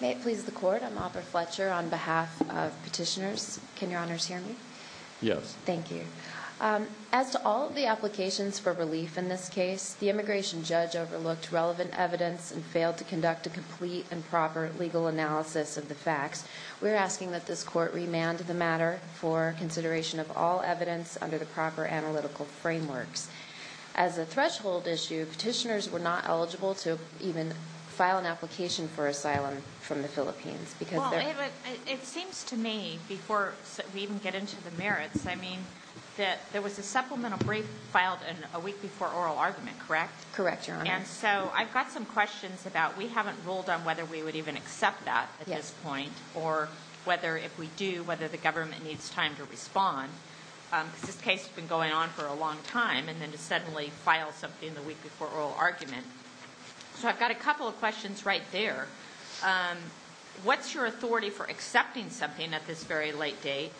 May it please the court, I'm Aubrey Fletcher on behalf of petitioners. Can your honors hear me? Yes. Thank you. As to all of the applications for relief in this case, the immigration judge overlooked relevant evidence and failed to conduct a complete and proper legal analysis of the facts. We're asking that this court remand the matter for consideration of all evidence under the proper analytical frameworks. As a threshold issue, petitioners were not eligible to even file an application for asylum from the Philippines. It seems to me, before we even get into the merits, I mean, that there was a supplemental brief filed a week before oral argument, correct? Correct, your honor. And so I've got some questions about, we haven't ruled on whether we would even accept that at this point, or whether if we do, whether the government needs time to respond. Because this case has been going on for a long time, and then to suddenly file something the week before oral argument. So I've got a couple of questions right there. What's your authority for accepting something at this very late date?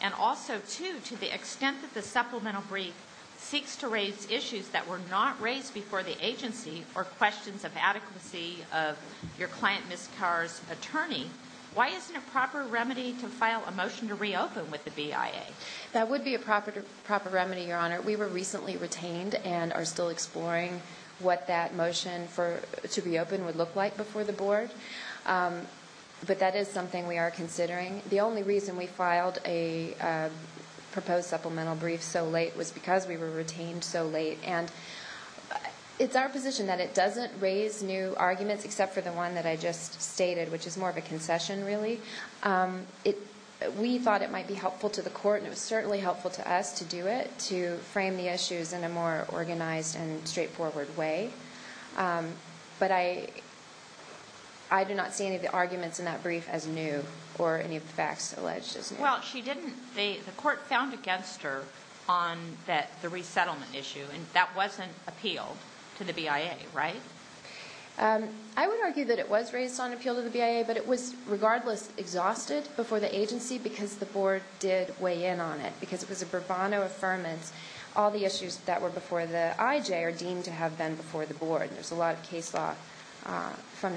And also, too, to the extent that the supplemental brief seeks to raise issues that were not raised before the agency, or questions of adequacy of your client, Ms. Kaur's attorney, why isn't a proper remedy to file a motion to reopen with the BIA? That would be a proper remedy, your honor. We were recently retained and are still exploring what that motion to reopen would look like before the board. But that is something we are considering. The only reason we filed a proposed supplemental brief so late was because we were retained so late. And it's our position that it doesn't raise new arguments except for the one that I just stated, which is more of a concession, really. We thought it might be helpful to the court, and it was certainly helpful to us to do it, to frame the issues in a more organized and straightforward way. But I do not see any of the arguments in that brief as new, or any of the facts alleged as new. Well, the court found against her on the resettlement issue, and that wasn't appealed to the BIA, right? I would argue that it was raised on appeal to the BIA, but it was regardless exhausted before the agency because the board did weigh in on it, because it was a bravado affirmance. All the issues that were before the IJ are deemed to have been before the board, and there's a lot of case law from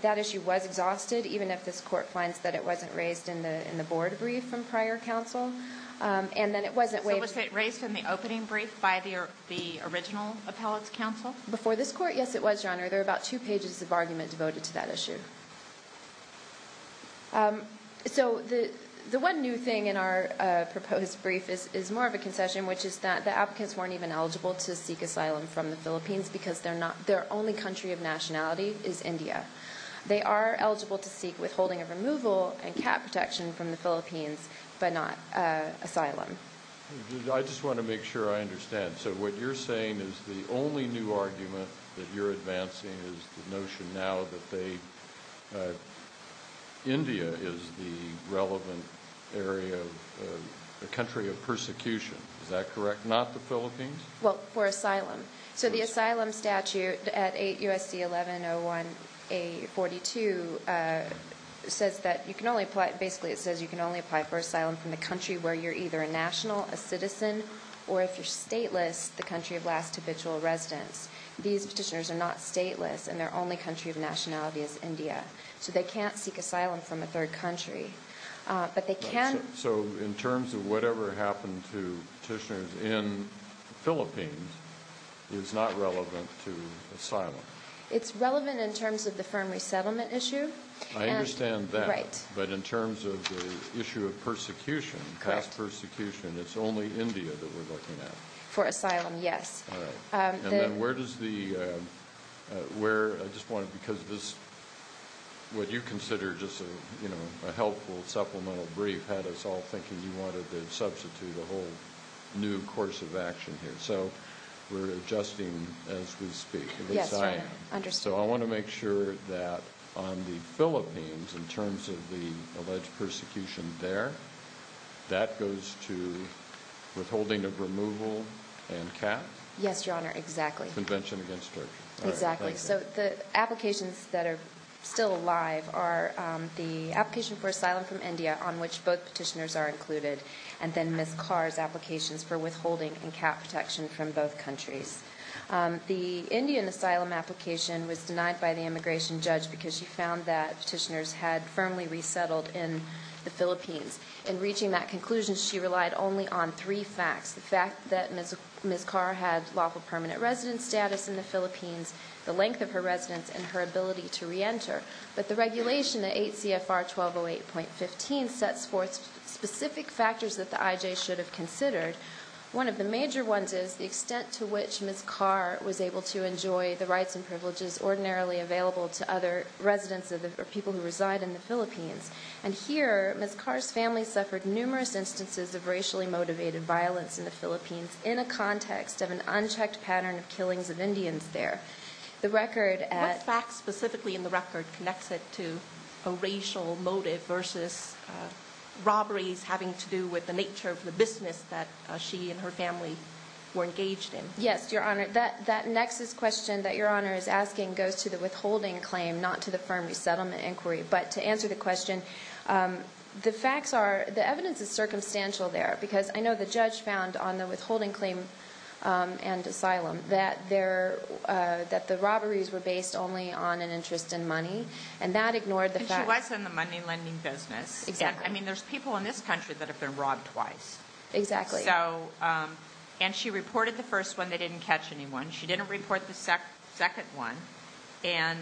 that issue was exhausted, even if this court finds that it wasn't raised in the board brief from prior counsel. And then it wasn't weighed... So was it raised in the opening brief by the original appellate's counsel? Before this court, yes, it was, Your Honor. There are about two pages of argument devoted to that issue. So the one new thing in our proposed brief is more of a concession, which is that the applicants weren't even eligible to seek asylum in the Philippines. The only country of nationality is India. They are eligible to seek withholding of removal and cap protection from the Philippines, but not asylum. I just want to make sure I understand. So what you're saying is the only new argument that you're advancing is the notion now that they... India is the relevant area, the country of persecution, is that correct? Not the Philippines? Well, for asylum. So the asylum statute at USC 1101A42 says that you can only apply... Basically it says you can only apply for asylum from the country where you're either a national, a citizen, or if you're stateless, the country of last habitual residence. These petitioners are not stateless, and their only country of nationality is India. So they can't seek asylum from a third country. So in terms of whatever happened to petitioners in Philippines is not relevant to asylum? It's relevant in terms of the firm resettlement issue. I understand that, but in terms of the issue of persecution, class persecution, it's only India that we're looking at. For asylum, yes. And then where does the... What you consider just a helpful supplemental brief had us all thinking you wanted to substitute a whole new course of action here. So we're adjusting as we speak, at least I am. So I want to make sure that on the Philippines, in terms of the alleged persecution there, that goes to withholding of removal and cap? Yes, Your Honor, exactly. Convention against Turkey. So the applications that are still alive are the application for asylum from India on which both petitioners are included, and then Ms. Carr's applications for withholding and cap protection from both countries. The Indian asylum application was denied by the immigration judge because she found that petitioners had firmly resettled in the Philippines. In reaching that conclusion, she relied only on three facts. The fact that Ms. Carr had lawful permanent residence status in the Philippines, the length of her residence, and her ability to reenter. But the regulation at 8 CFR 1208.15 sets forth specific factors that the IJ should have considered. One of the major ones is the extent to which Ms. Carr was able to enjoy the rights and privileges ordinarily available to other residents or people who reside in the Philippines. And here, Ms. Carr's family suffered numerous instances of racially motivated violence in the Philippines in a context of an unchecked pattern of killings of Indians there. What facts specifically in the record connects it to a racial motive versus robberies having to do with the nature of the business that she and her family were engaged in? Yes, Your Honor. That nexus question that Your Honor is asking goes to the withholding claim, not to the firm resettlement inquiry. But to answer the question, the facts are, the evidence is circumstantial there. Because I know the judge found on the withholding claim and asylum that the robberies were based only on an interest in money. And that ignored the facts. And she was in the money lending business. Exactly. I mean, there's people in this country that have been robbed twice. Exactly. And she reported the first one. They didn't catch anyone. She didn't report the second one. And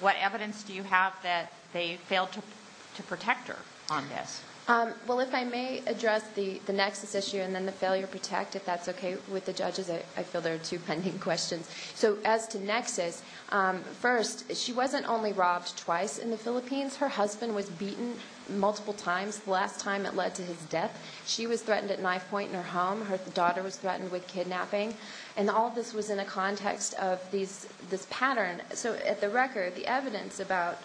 what evidence do you have that they failed to protect her on this? Well, if I may address the nexus issue and then the failure to protect, if that's okay with the judges, I feel there are two pending questions. So as to nexus, first, she wasn't only robbed twice in the Philippines. Her husband was beaten multiple times. The last time it led to his death. She was threatened at knife point in her home. Her daughter was threatened with kidnapping. And all of this was in a context of this pattern. So at the record, the evidence about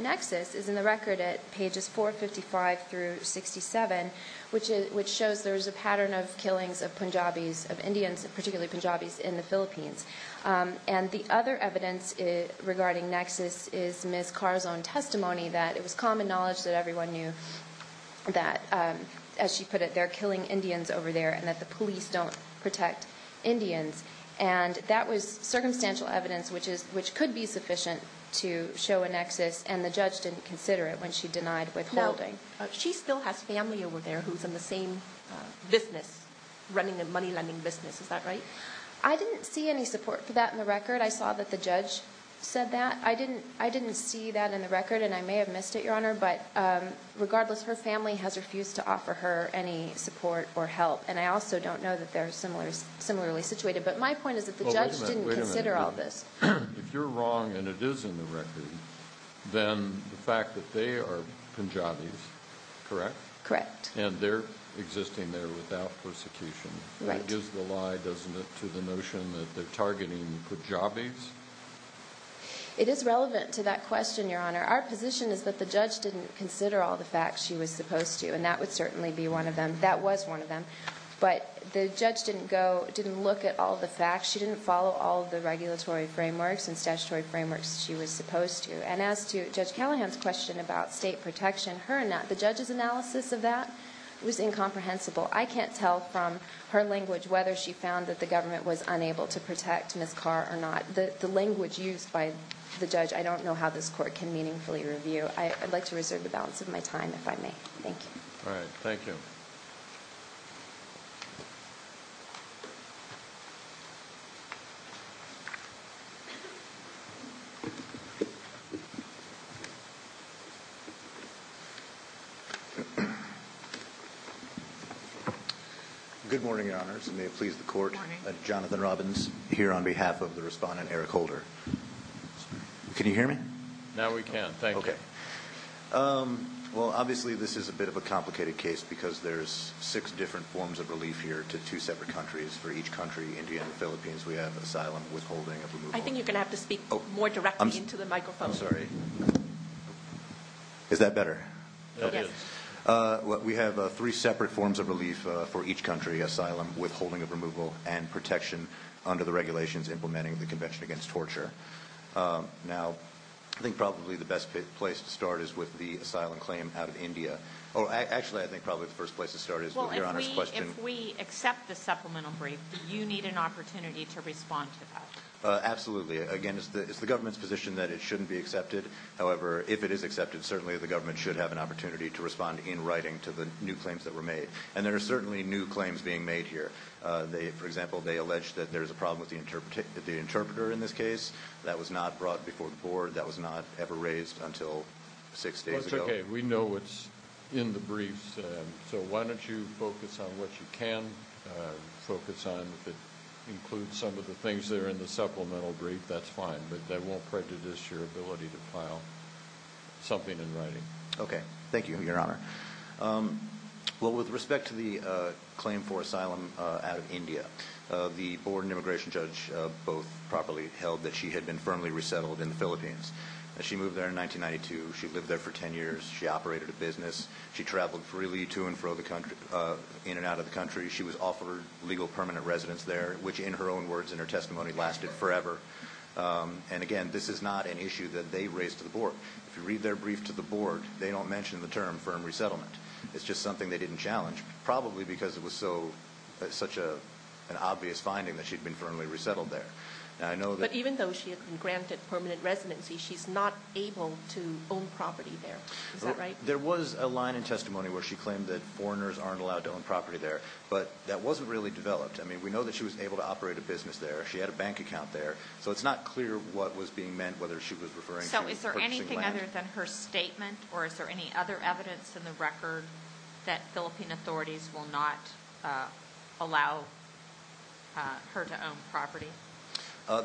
nexus is in the record at pages 455 through 67, which shows there was a pattern of killings of Punjabis, of Indians, particularly Punjabis, in the Philippines. And the other evidence regarding nexus is Ms. Carr's own testimony that it was common knowledge that everyone knew that, as she put it, they're killing Indians over there and that the police don't protect Indians. And that was circumstantial evidence, which could be sufficient to show a nexus. And the judge didn't consider it when she denied withholding. She still has family over there who's in the same business, running a money lending business. Is that right? I didn't see any support for that in the record. I saw that the judge said that. I didn't see that in the record, and I may have missed it, Your Honor. But regardless, her family has refused to offer her any support or help. And I also don't know that they're similarly situated. But my point is that the judge didn't consider all this. If you're wrong and it is in the record, then the fact that they are Punjabis, correct? Correct. And they're existing there without persecution. Right. That gives the lie, doesn't it, to the notion that they're targeting Punjabis? It is relevant to that question, Your Honor. Our position is that the judge didn't consider all the facts she was supposed to, and that would certainly be one of them. That was one of them. But the judge didn't look at all the facts. She didn't follow all of the regulatory frameworks and statutory frameworks she was supposed to. And as to Judge Callahan's question about state protection, the judge's analysis of that was incomprehensible. I can't tell from her language whether she found that the government was unable to protect Ms. Carr or not. The language used by the judge, I don't know how this Court can meaningfully review. I'd like to reserve the balance of my time, if I may. All right. Thank you. Good morning, Your Honors, and may it please the Court, I'm Jonathan Robbins, here on behalf of the respondent, Eric Holder. Can you hear me? Now we can. Thank you. Well, obviously this is a bit of a complicated case because there's six different forms of relief here to two separate countries. For each country, India and the Philippines, we have asylum, withholding of removal. I think you're going to have to speak more directly into the microphone. Is that better? Yes. We have three separate forms of relief for each country, asylum, withholding of removal, and protection under the United Nations Convention on the Rights of Persons with Disabilities. The first place to start is with the asylum claim out of India. Actually, I think probably the first place to start is with Your Honors' question. If we accept the supplemental brief, do you need an opportunity to respond to that? Absolutely. Again, it's the government's position that it shouldn't be accepted. However, if it is accepted, certainly the government should have an opportunity to respond in writing to the new claims that were made. And there are certainly new claims being made here. For example, they allege that there's a problem with the interpreter in this case. That was not brought before the board. That was not ever raised until six days ago. That's okay. We know what's in the briefs, so why don't you focus on what you can focus on. If it includes some of the things that are in the supplemental brief, that's fine. But that won't prejudice your ability to file something in writing. Okay. Thank you, Your Honor. Well, with respect to the claim for asylum out of India, the board and immigration judge both properly held that she had been firmly resettled in the Philippines. She moved there in 1992. She lived there for ten years. She operated a business. She traveled freely to and fro in and out of the country. She was offered legal permanent residence there, which in her own words, in her testimony, lasted forever. And again, this is not an issue that they raised to the board. If you read their brief to the board, they don't mention the term firm resettlement. It's just something they didn't challenge, probably because it was such an obvious finding that she'd been firmly resettled there. But even though she had been granted permanent residency, she's not able to own property there. There was a line in testimony where she claimed that foreigners aren't allowed to own property there, but that wasn't really developed. I mean, we know that she was able to operate a business there. She had a bank account there, so it's not clear what was being meant, whether she was referring to purchasing land. So is there anything other than her statement, or is there any other evidence in the record that Philippine authorities will not allow her to own property?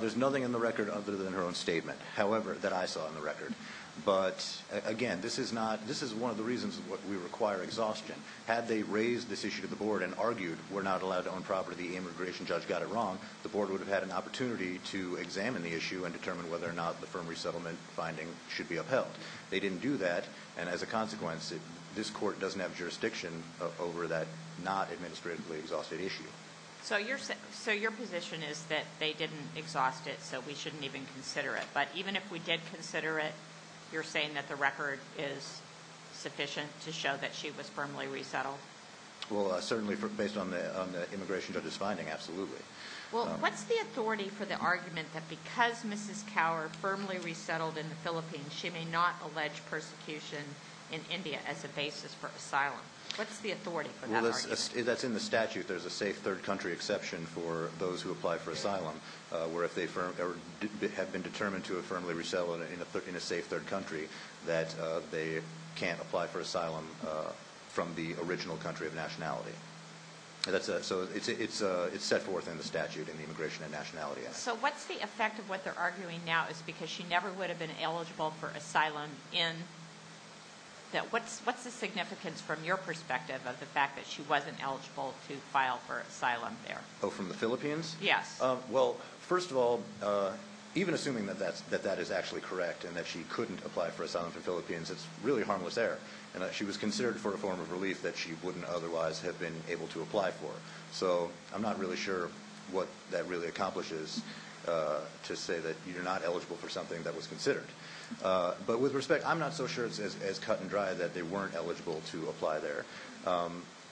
There's nothing in the record other than her own statement, however, that I saw in the record. But again, this is one of the reasons we require exhaustion. Had they raised this issue to the board and argued we're not allowed to own property, the immigration judge got it wrong, the board would have had an opportunity to examine the issue and determine whether or not the firm resettlement finding should be upheld. They didn't do that, and as a consequence, this court doesn't have jurisdiction over that not administratively that they didn't exhaust it, so we shouldn't even consider it. But even if we did consider it, you're saying that the record is sufficient to show that she was firmly resettled? Well, certainly based on the immigration judge's finding, absolutely. Well, what's the authority for the argument that because Mrs. Kaur firmly resettled in the Philippines, she may not allege persecution in India as a basis for asylum? What's the authority for that argument? That's in the statute. There's a safe third country exception for those who apply for asylum, where if they have been determined to have firmly resettled in a safe third country that they can't apply for asylum from the original country of nationality. So it's set forth in the statute in the Immigration and Nationality Act. So what's the effect of what they're arguing now is because she never would have been eligible for asylum in India. What's the significance from your perspective of the fact that she wasn't eligible to file for asylum there? Oh, from the Philippines? Yes. Well, first of all, even assuming that that is actually correct and that she couldn't apply for asylum from the Philippines, it's really harmless there. And she was considered for a form of relief that she wouldn't otherwise have been able to apply for. So I'm not really sure what that really accomplishes to say that you're not eligible for something that was considered. But with respect, I'm not so sure it's as cut and dry that they weren't eligible to apply there.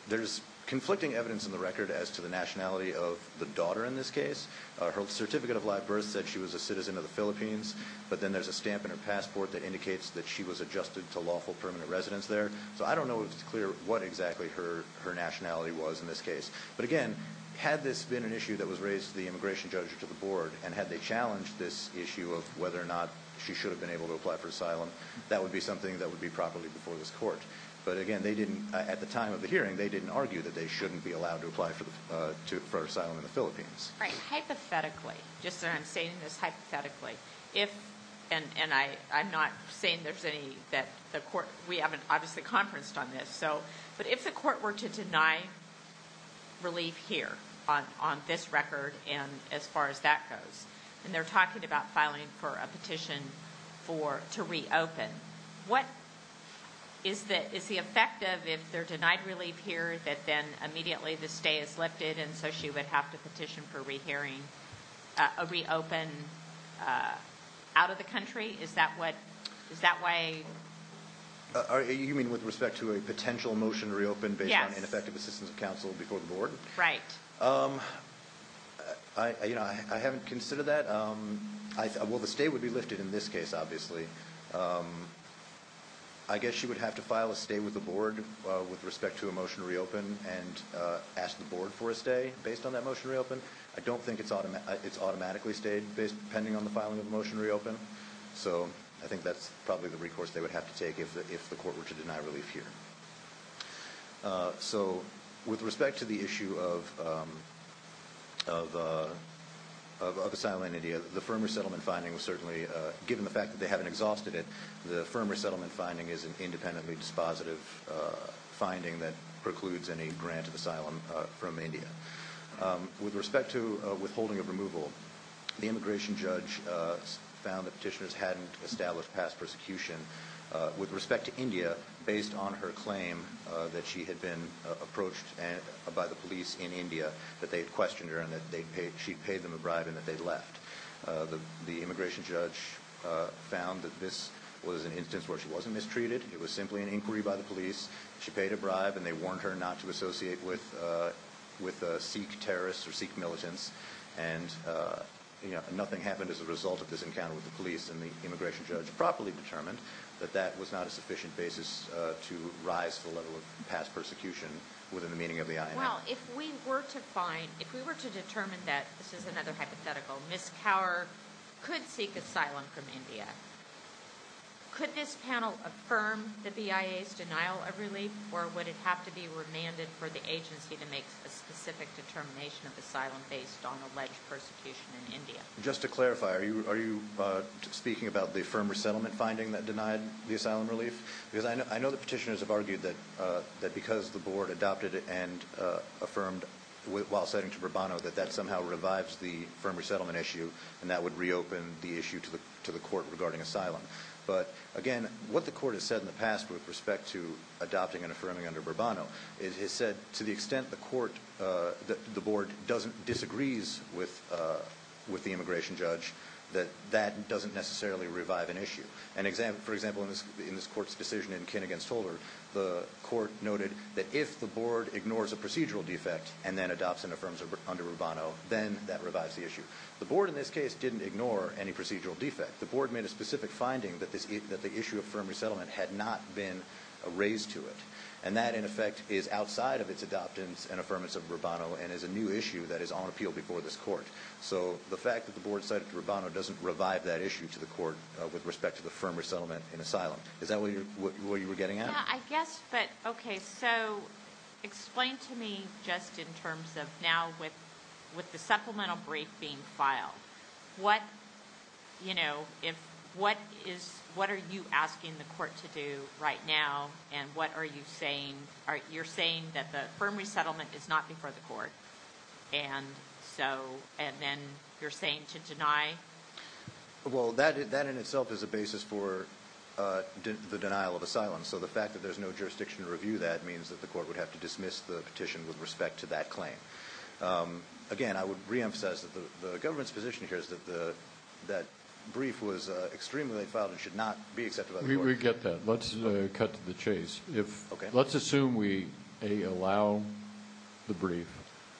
There's conflicting evidence in the record as to the nationality of the daughter in this case. Her certificate of live birth said she was a citizen of the Philippines, but then there's a stamp in her passport that indicates that she was adjusted to lawful permanent residence there. So I don't know if it's clear what exactly her nationality was in this case. But again, had this been an issue that was raised to the immigration judge or to the board, and had they challenged this issue of whether or not she should have been able to apply for asylum, that would be something that would be properly before this court. But again, at the time of the hearing, they didn't argue that they shouldn't be allowed to apply for asylum in the Philippines. Right. Hypothetically, just so I'm stating this hypothetically, and I'm not saying that we haven't obviously conferenced on this, but if the court were to deny relief here on this record and as far as that goes, and they're talking about filing for a petition to reopen, what is the effect of if they're denied relief here that then immediately the stay is lifted and so she would have to petition for a reopen out of the country? Is that what is that way? You mean with respect to a potential motion to reopen based on ineffective assistance of counsel before the board? Right. I haven't considered that. Well, the stay would be lifted in this case, obviously. I guess she would have to file a stay with the board with respect to a motion to reopen and ask the board for a stay based on that motion to reopen. I don't think it's automatically stayed based depending on the filing of a motion to reopen. So I think that's probably the recourse they would have to take if the court were to deny relief here. So with respect to the issue of asylum in India, the firm resettlement finding was certainly given the fact that they haven't exhausted it. The firm resettlement finding is an independently dispositive finding that precludes any grant of asylum from India. With respect to withholding of removal, the immigration judge found that petitioners hadn't established past persecution. With respect to India, based on her claim that she had been approached by the police in India that they had questioned her and that she'd paid them a bribe and that they'd left. The immigration judge found that this was an instance where she wasn't mistreated. It was simply an inquiry by the police. She paid a bribe and they warned her not to associate with Sikh terrorists or Sikh militants. And nothing happened as a result of this encounter with the police and the immigration judge properly determined that that was not a sufficient basis to rise to the level of past persecution within the meaning of the IMF. Well, if we were to find, if we were to determine that, this is another hypothetical, Ms. Kaur could seek asylum from India. Could this panel affirm the BIA's denial of relief or would it have to be remanded for the agency to make a specific determination of asylum based on alleged persecution in India? Just to clarify, are you speaking about the firm resettlement finding that denied the asylum relief? Because I know that petitioners have argued that because the board adopted it and affirmed while citing to Bourbano that that somehow revives the firm resettlement issue and that would reopen the issue to the court regarding asylum. But again, what the court has said in the past with respect to adopting and affirming under Bourbano is it said to the extent the court, the board disagrees with the immigration judge that that doesn't necessarily revive an issue. For example, in this court's decision in Kin against Holder, the court noted that if the board ignores a procedural defect and then adopts and affirms under Bourbano, then that revives the issue. The board in this case didn't ignore any procedural defect. The board made a specific finding that the issue of firm resettlement had not been raised to it. And that, in effect, is outside of its adoptance and affirmance of Bourbano and is a new issue that is on appeal before this court. So the fact that the board cited Bourbano doesn't revive that issue to the court with respect to the firm resettlement in asylum. Is that what you were getting at? Yeah, I guess, but okay, so explain to me just in terms of now with the supplemental brief being filed, what are you asking the court to do right now and what are you saying? You're saying that the firm resettlement is not before the court and then you're saying to deny? Well, that in itself is a basis for the denial of asylum. So the fact that there's no jurisdiction to review that means that the court would have to dismiss the petition with respect to that claim. Again, I would reemphasize that the government's position here is that that brief was extremely late filed and should not be accepted by the court. We get that. Let's cut to the chase. Let's assume we, A, allow the brief.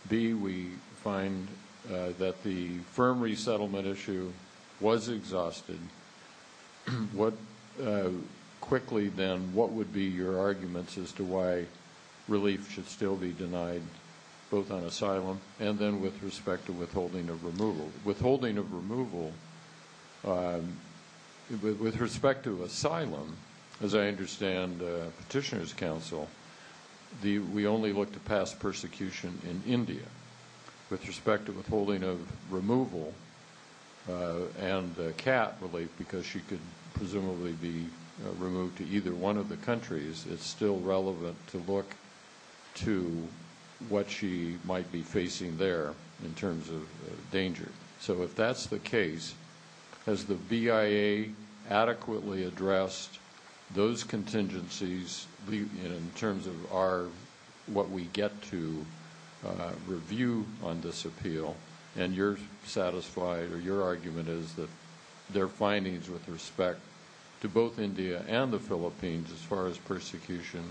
B, we find that the firm resettlement issue was exhausted. Quickly then, what would be your arguments as to why relief should still be denied, both on asylum and then with respect to withholding of removal? With respect to asylum, as I understand Petitioner's Council, we only look to pass persecution in India. With respect to withholding of removal and CAT relief, because she could presumably be removed to either one of the countries, it's still relevant to look to what she might be facing there in terms of danger. So if that's the case, has the BIA adequately addressed those contingencies in terms of what we get to review on this appeal? And your argument is that their findings with respect to both India and the Philippines as far as persecution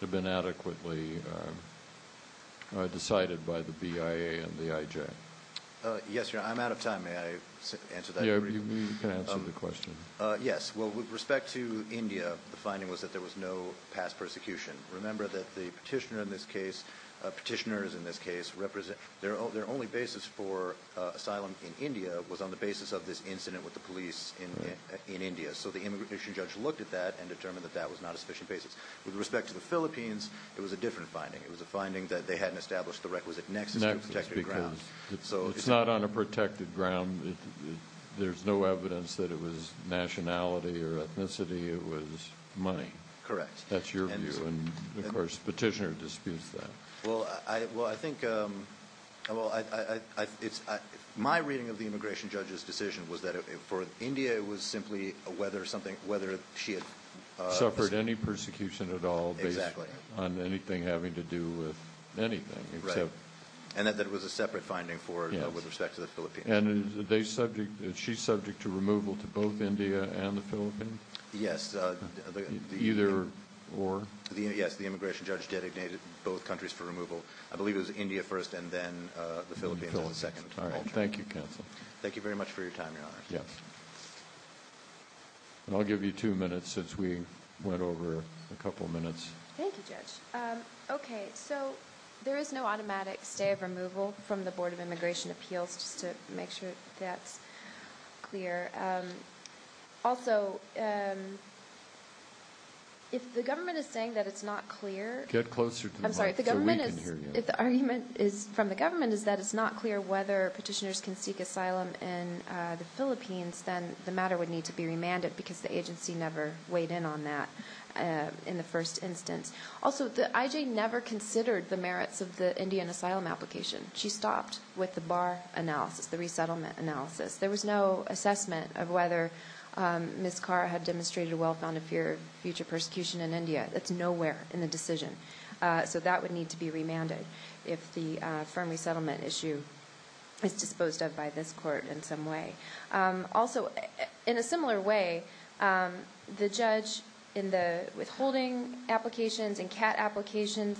have been adequately decided by the BIA and the IJ? Yes, Your Honor. I'm out of time. May I answer that briefly? You can answer the question. Yes. Well, with respect to India, the finding was that there was no past persecution. Remember that the petitioners in this case, their only basis for asylum in India was on the basis of this incident with the police in India. So the immigration judge looked at that and determined that that was not a sufficient basis. With respect to the Philippines, it was a different finding. It was a finding that they hadn't established the requisite nexus to a protected ground. It's not on a protected ground. There's no evidence that it was nationality or ethnicity. It was money. Correct. My reading of the immigration judge's decision was that for India, it was simply whether she had... Suffered any persecution at all based on anything having to do with anything. And that there was a separate finding with respect to the Philippines. And is she subject to removal to both India and the Philippines? Yes. The immigration judge designated both countries for removal. I believe it was India first and then the Philippines as the second. Thank you very much for your time, Your Honor. I'll give you two minutes since we went over a couple minutes. Thank you, Judge. There is no automatic stay of removal from the Board of Immigration Appeals, just to make sure that's clear. Also, if the government is saying that it's not clear... Get closer to the mic so we can hear you. If the argument from the government is that it's not clear whether petitioners can seek asylum in the Philippines, then the matter would need to be remanded because the agency never weighed in on that in the first instance. Also, the IJ never considered the merits of the Indian asylum application. She stopped with the bar analysis, the resettlement analysis. There was no assessment of whether Ms. Khara had demonstrated a well-founded fear of future persecution in India. That's nowhere in the decision. So that would need to be remanded if the firm resettlement issue is disposed of by this Court in some way. Also, in a similar way, the judge in the withholding applications and CAT applications,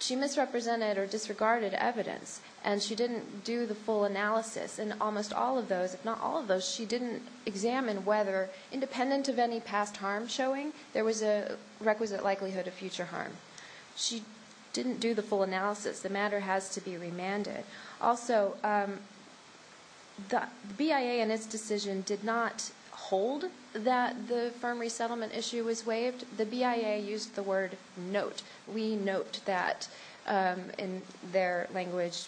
she misrepresented or disregarded evidence, and she didn't do the full analysis. In almost all of those, if not all of those, she didn't examine whether, independent of any past harm showing, there was a requisite likelihood of future harm. She didn't do the full analysis. The matter has to be remanded. Also, the BIA in its decision did not hold that the firm resettlement issue was waived. The BIA used the word note. We note that, in their language,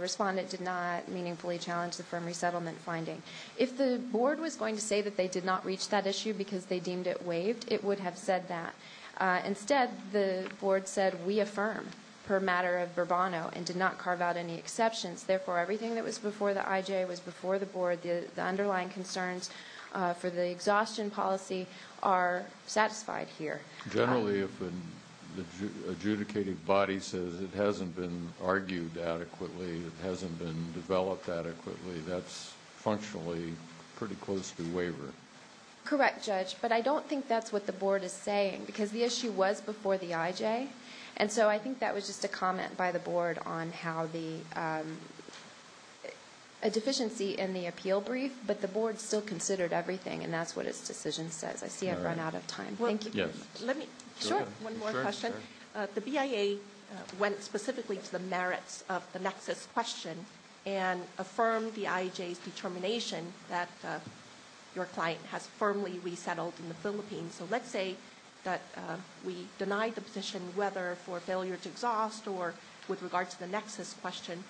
respondent did not meaningfully challenge the firm resettlement finding. If the Board was going to say that they did not reach that issue because they deemed it waived, it would have said that. Instead, the Board said, we affirm, per matter of Burbano, and did not carve out any exceptions. Therefore, everything that was before the IJ was before the Board. The underlying concerns for the exhaustion policy are satisfied here. Generally, if an adjudicative body says it hasn't been argued adequately, it hasn't been developed adequately, that's functionally pretty close to waiver. Correct, Judge, but I don't think that's what the Board is saying, because the issue was before the IJ, and so I think that was just a comment by the Board on how there was a deficiency in the appeal brief, but the Board still considered everything, and that's what its decision says. I see I've run out of time. Thank you. Sure, one more question. The BIA went specifically to the merits of the nexus question, and affirmed the IJ's determination that your client has firmly resettled in the Philippines. So let's say that we denied the position, whether for failure to exhaust, or with regard to the nexus question,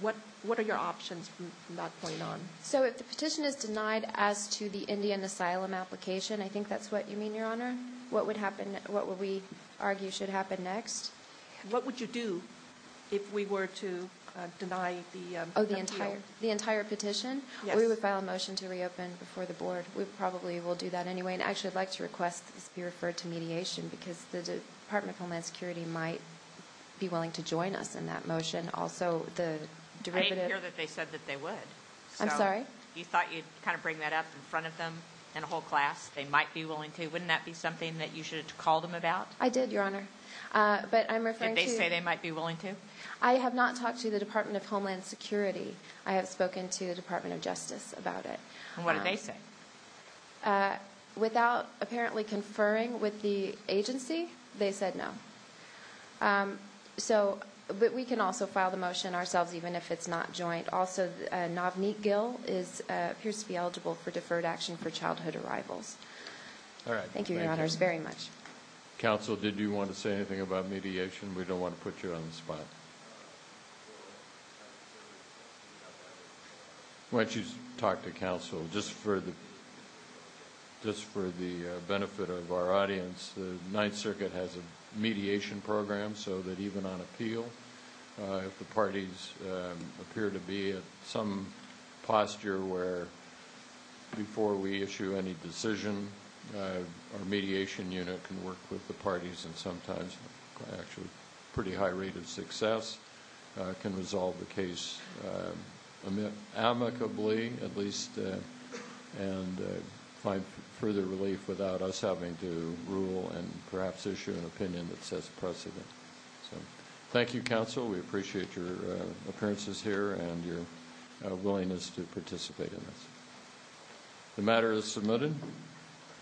what are your options from that point on? So if the petition is denied as to the Indian asylum application, I think that's what you mean, Your Honor? What would we argue should happen next? What would you do if we were to deny the appeal? Oh, the entire petition? We would file a motion to reopen before the Board. We probably will do that anyway, and I'd actually like to request that this be referred to mediation, because the Department of Homeland Security might be willing to join us in that motion. Also, the derivative... I didn't hear that they said that they would. I'm sorry? You thought you'd kind of bring that up in front of them in a whole class? They might be willing to? Wouldn't that be something that you should have called them about? I did, Your Honor. If they say they might be willing to? I have not talked to the Department of Homeland Security. I have spoken to the Department of Justice about it. And what did they say? Without apparently conferring with the agency, they said no. But we can also file the motion ourselves, even if it's not joint. Also, Navneet Gill appears to be eligible for deferred action for childhood arrivals. Thank you, Your Honors, very much. Counsel, did you want to say anything about mediation? We don't want to put you on the spot. Why don't you talk to counsel? Just for the benefit of our audience, the Ninth Circuit has a mediation program, so that even on appeal, if the parties appear to be in some posture where before we issue any decision, our mediation unit can work with the parties and sometimes, actually, pretty high rate of success, can resolve the case amicably, at least, and find further relief without us having to rule and perhaps issue an opinion that sets precedent. Thank you, counsel. We appreciate your appearances here and your willingness to participate in this. The matter is submitted.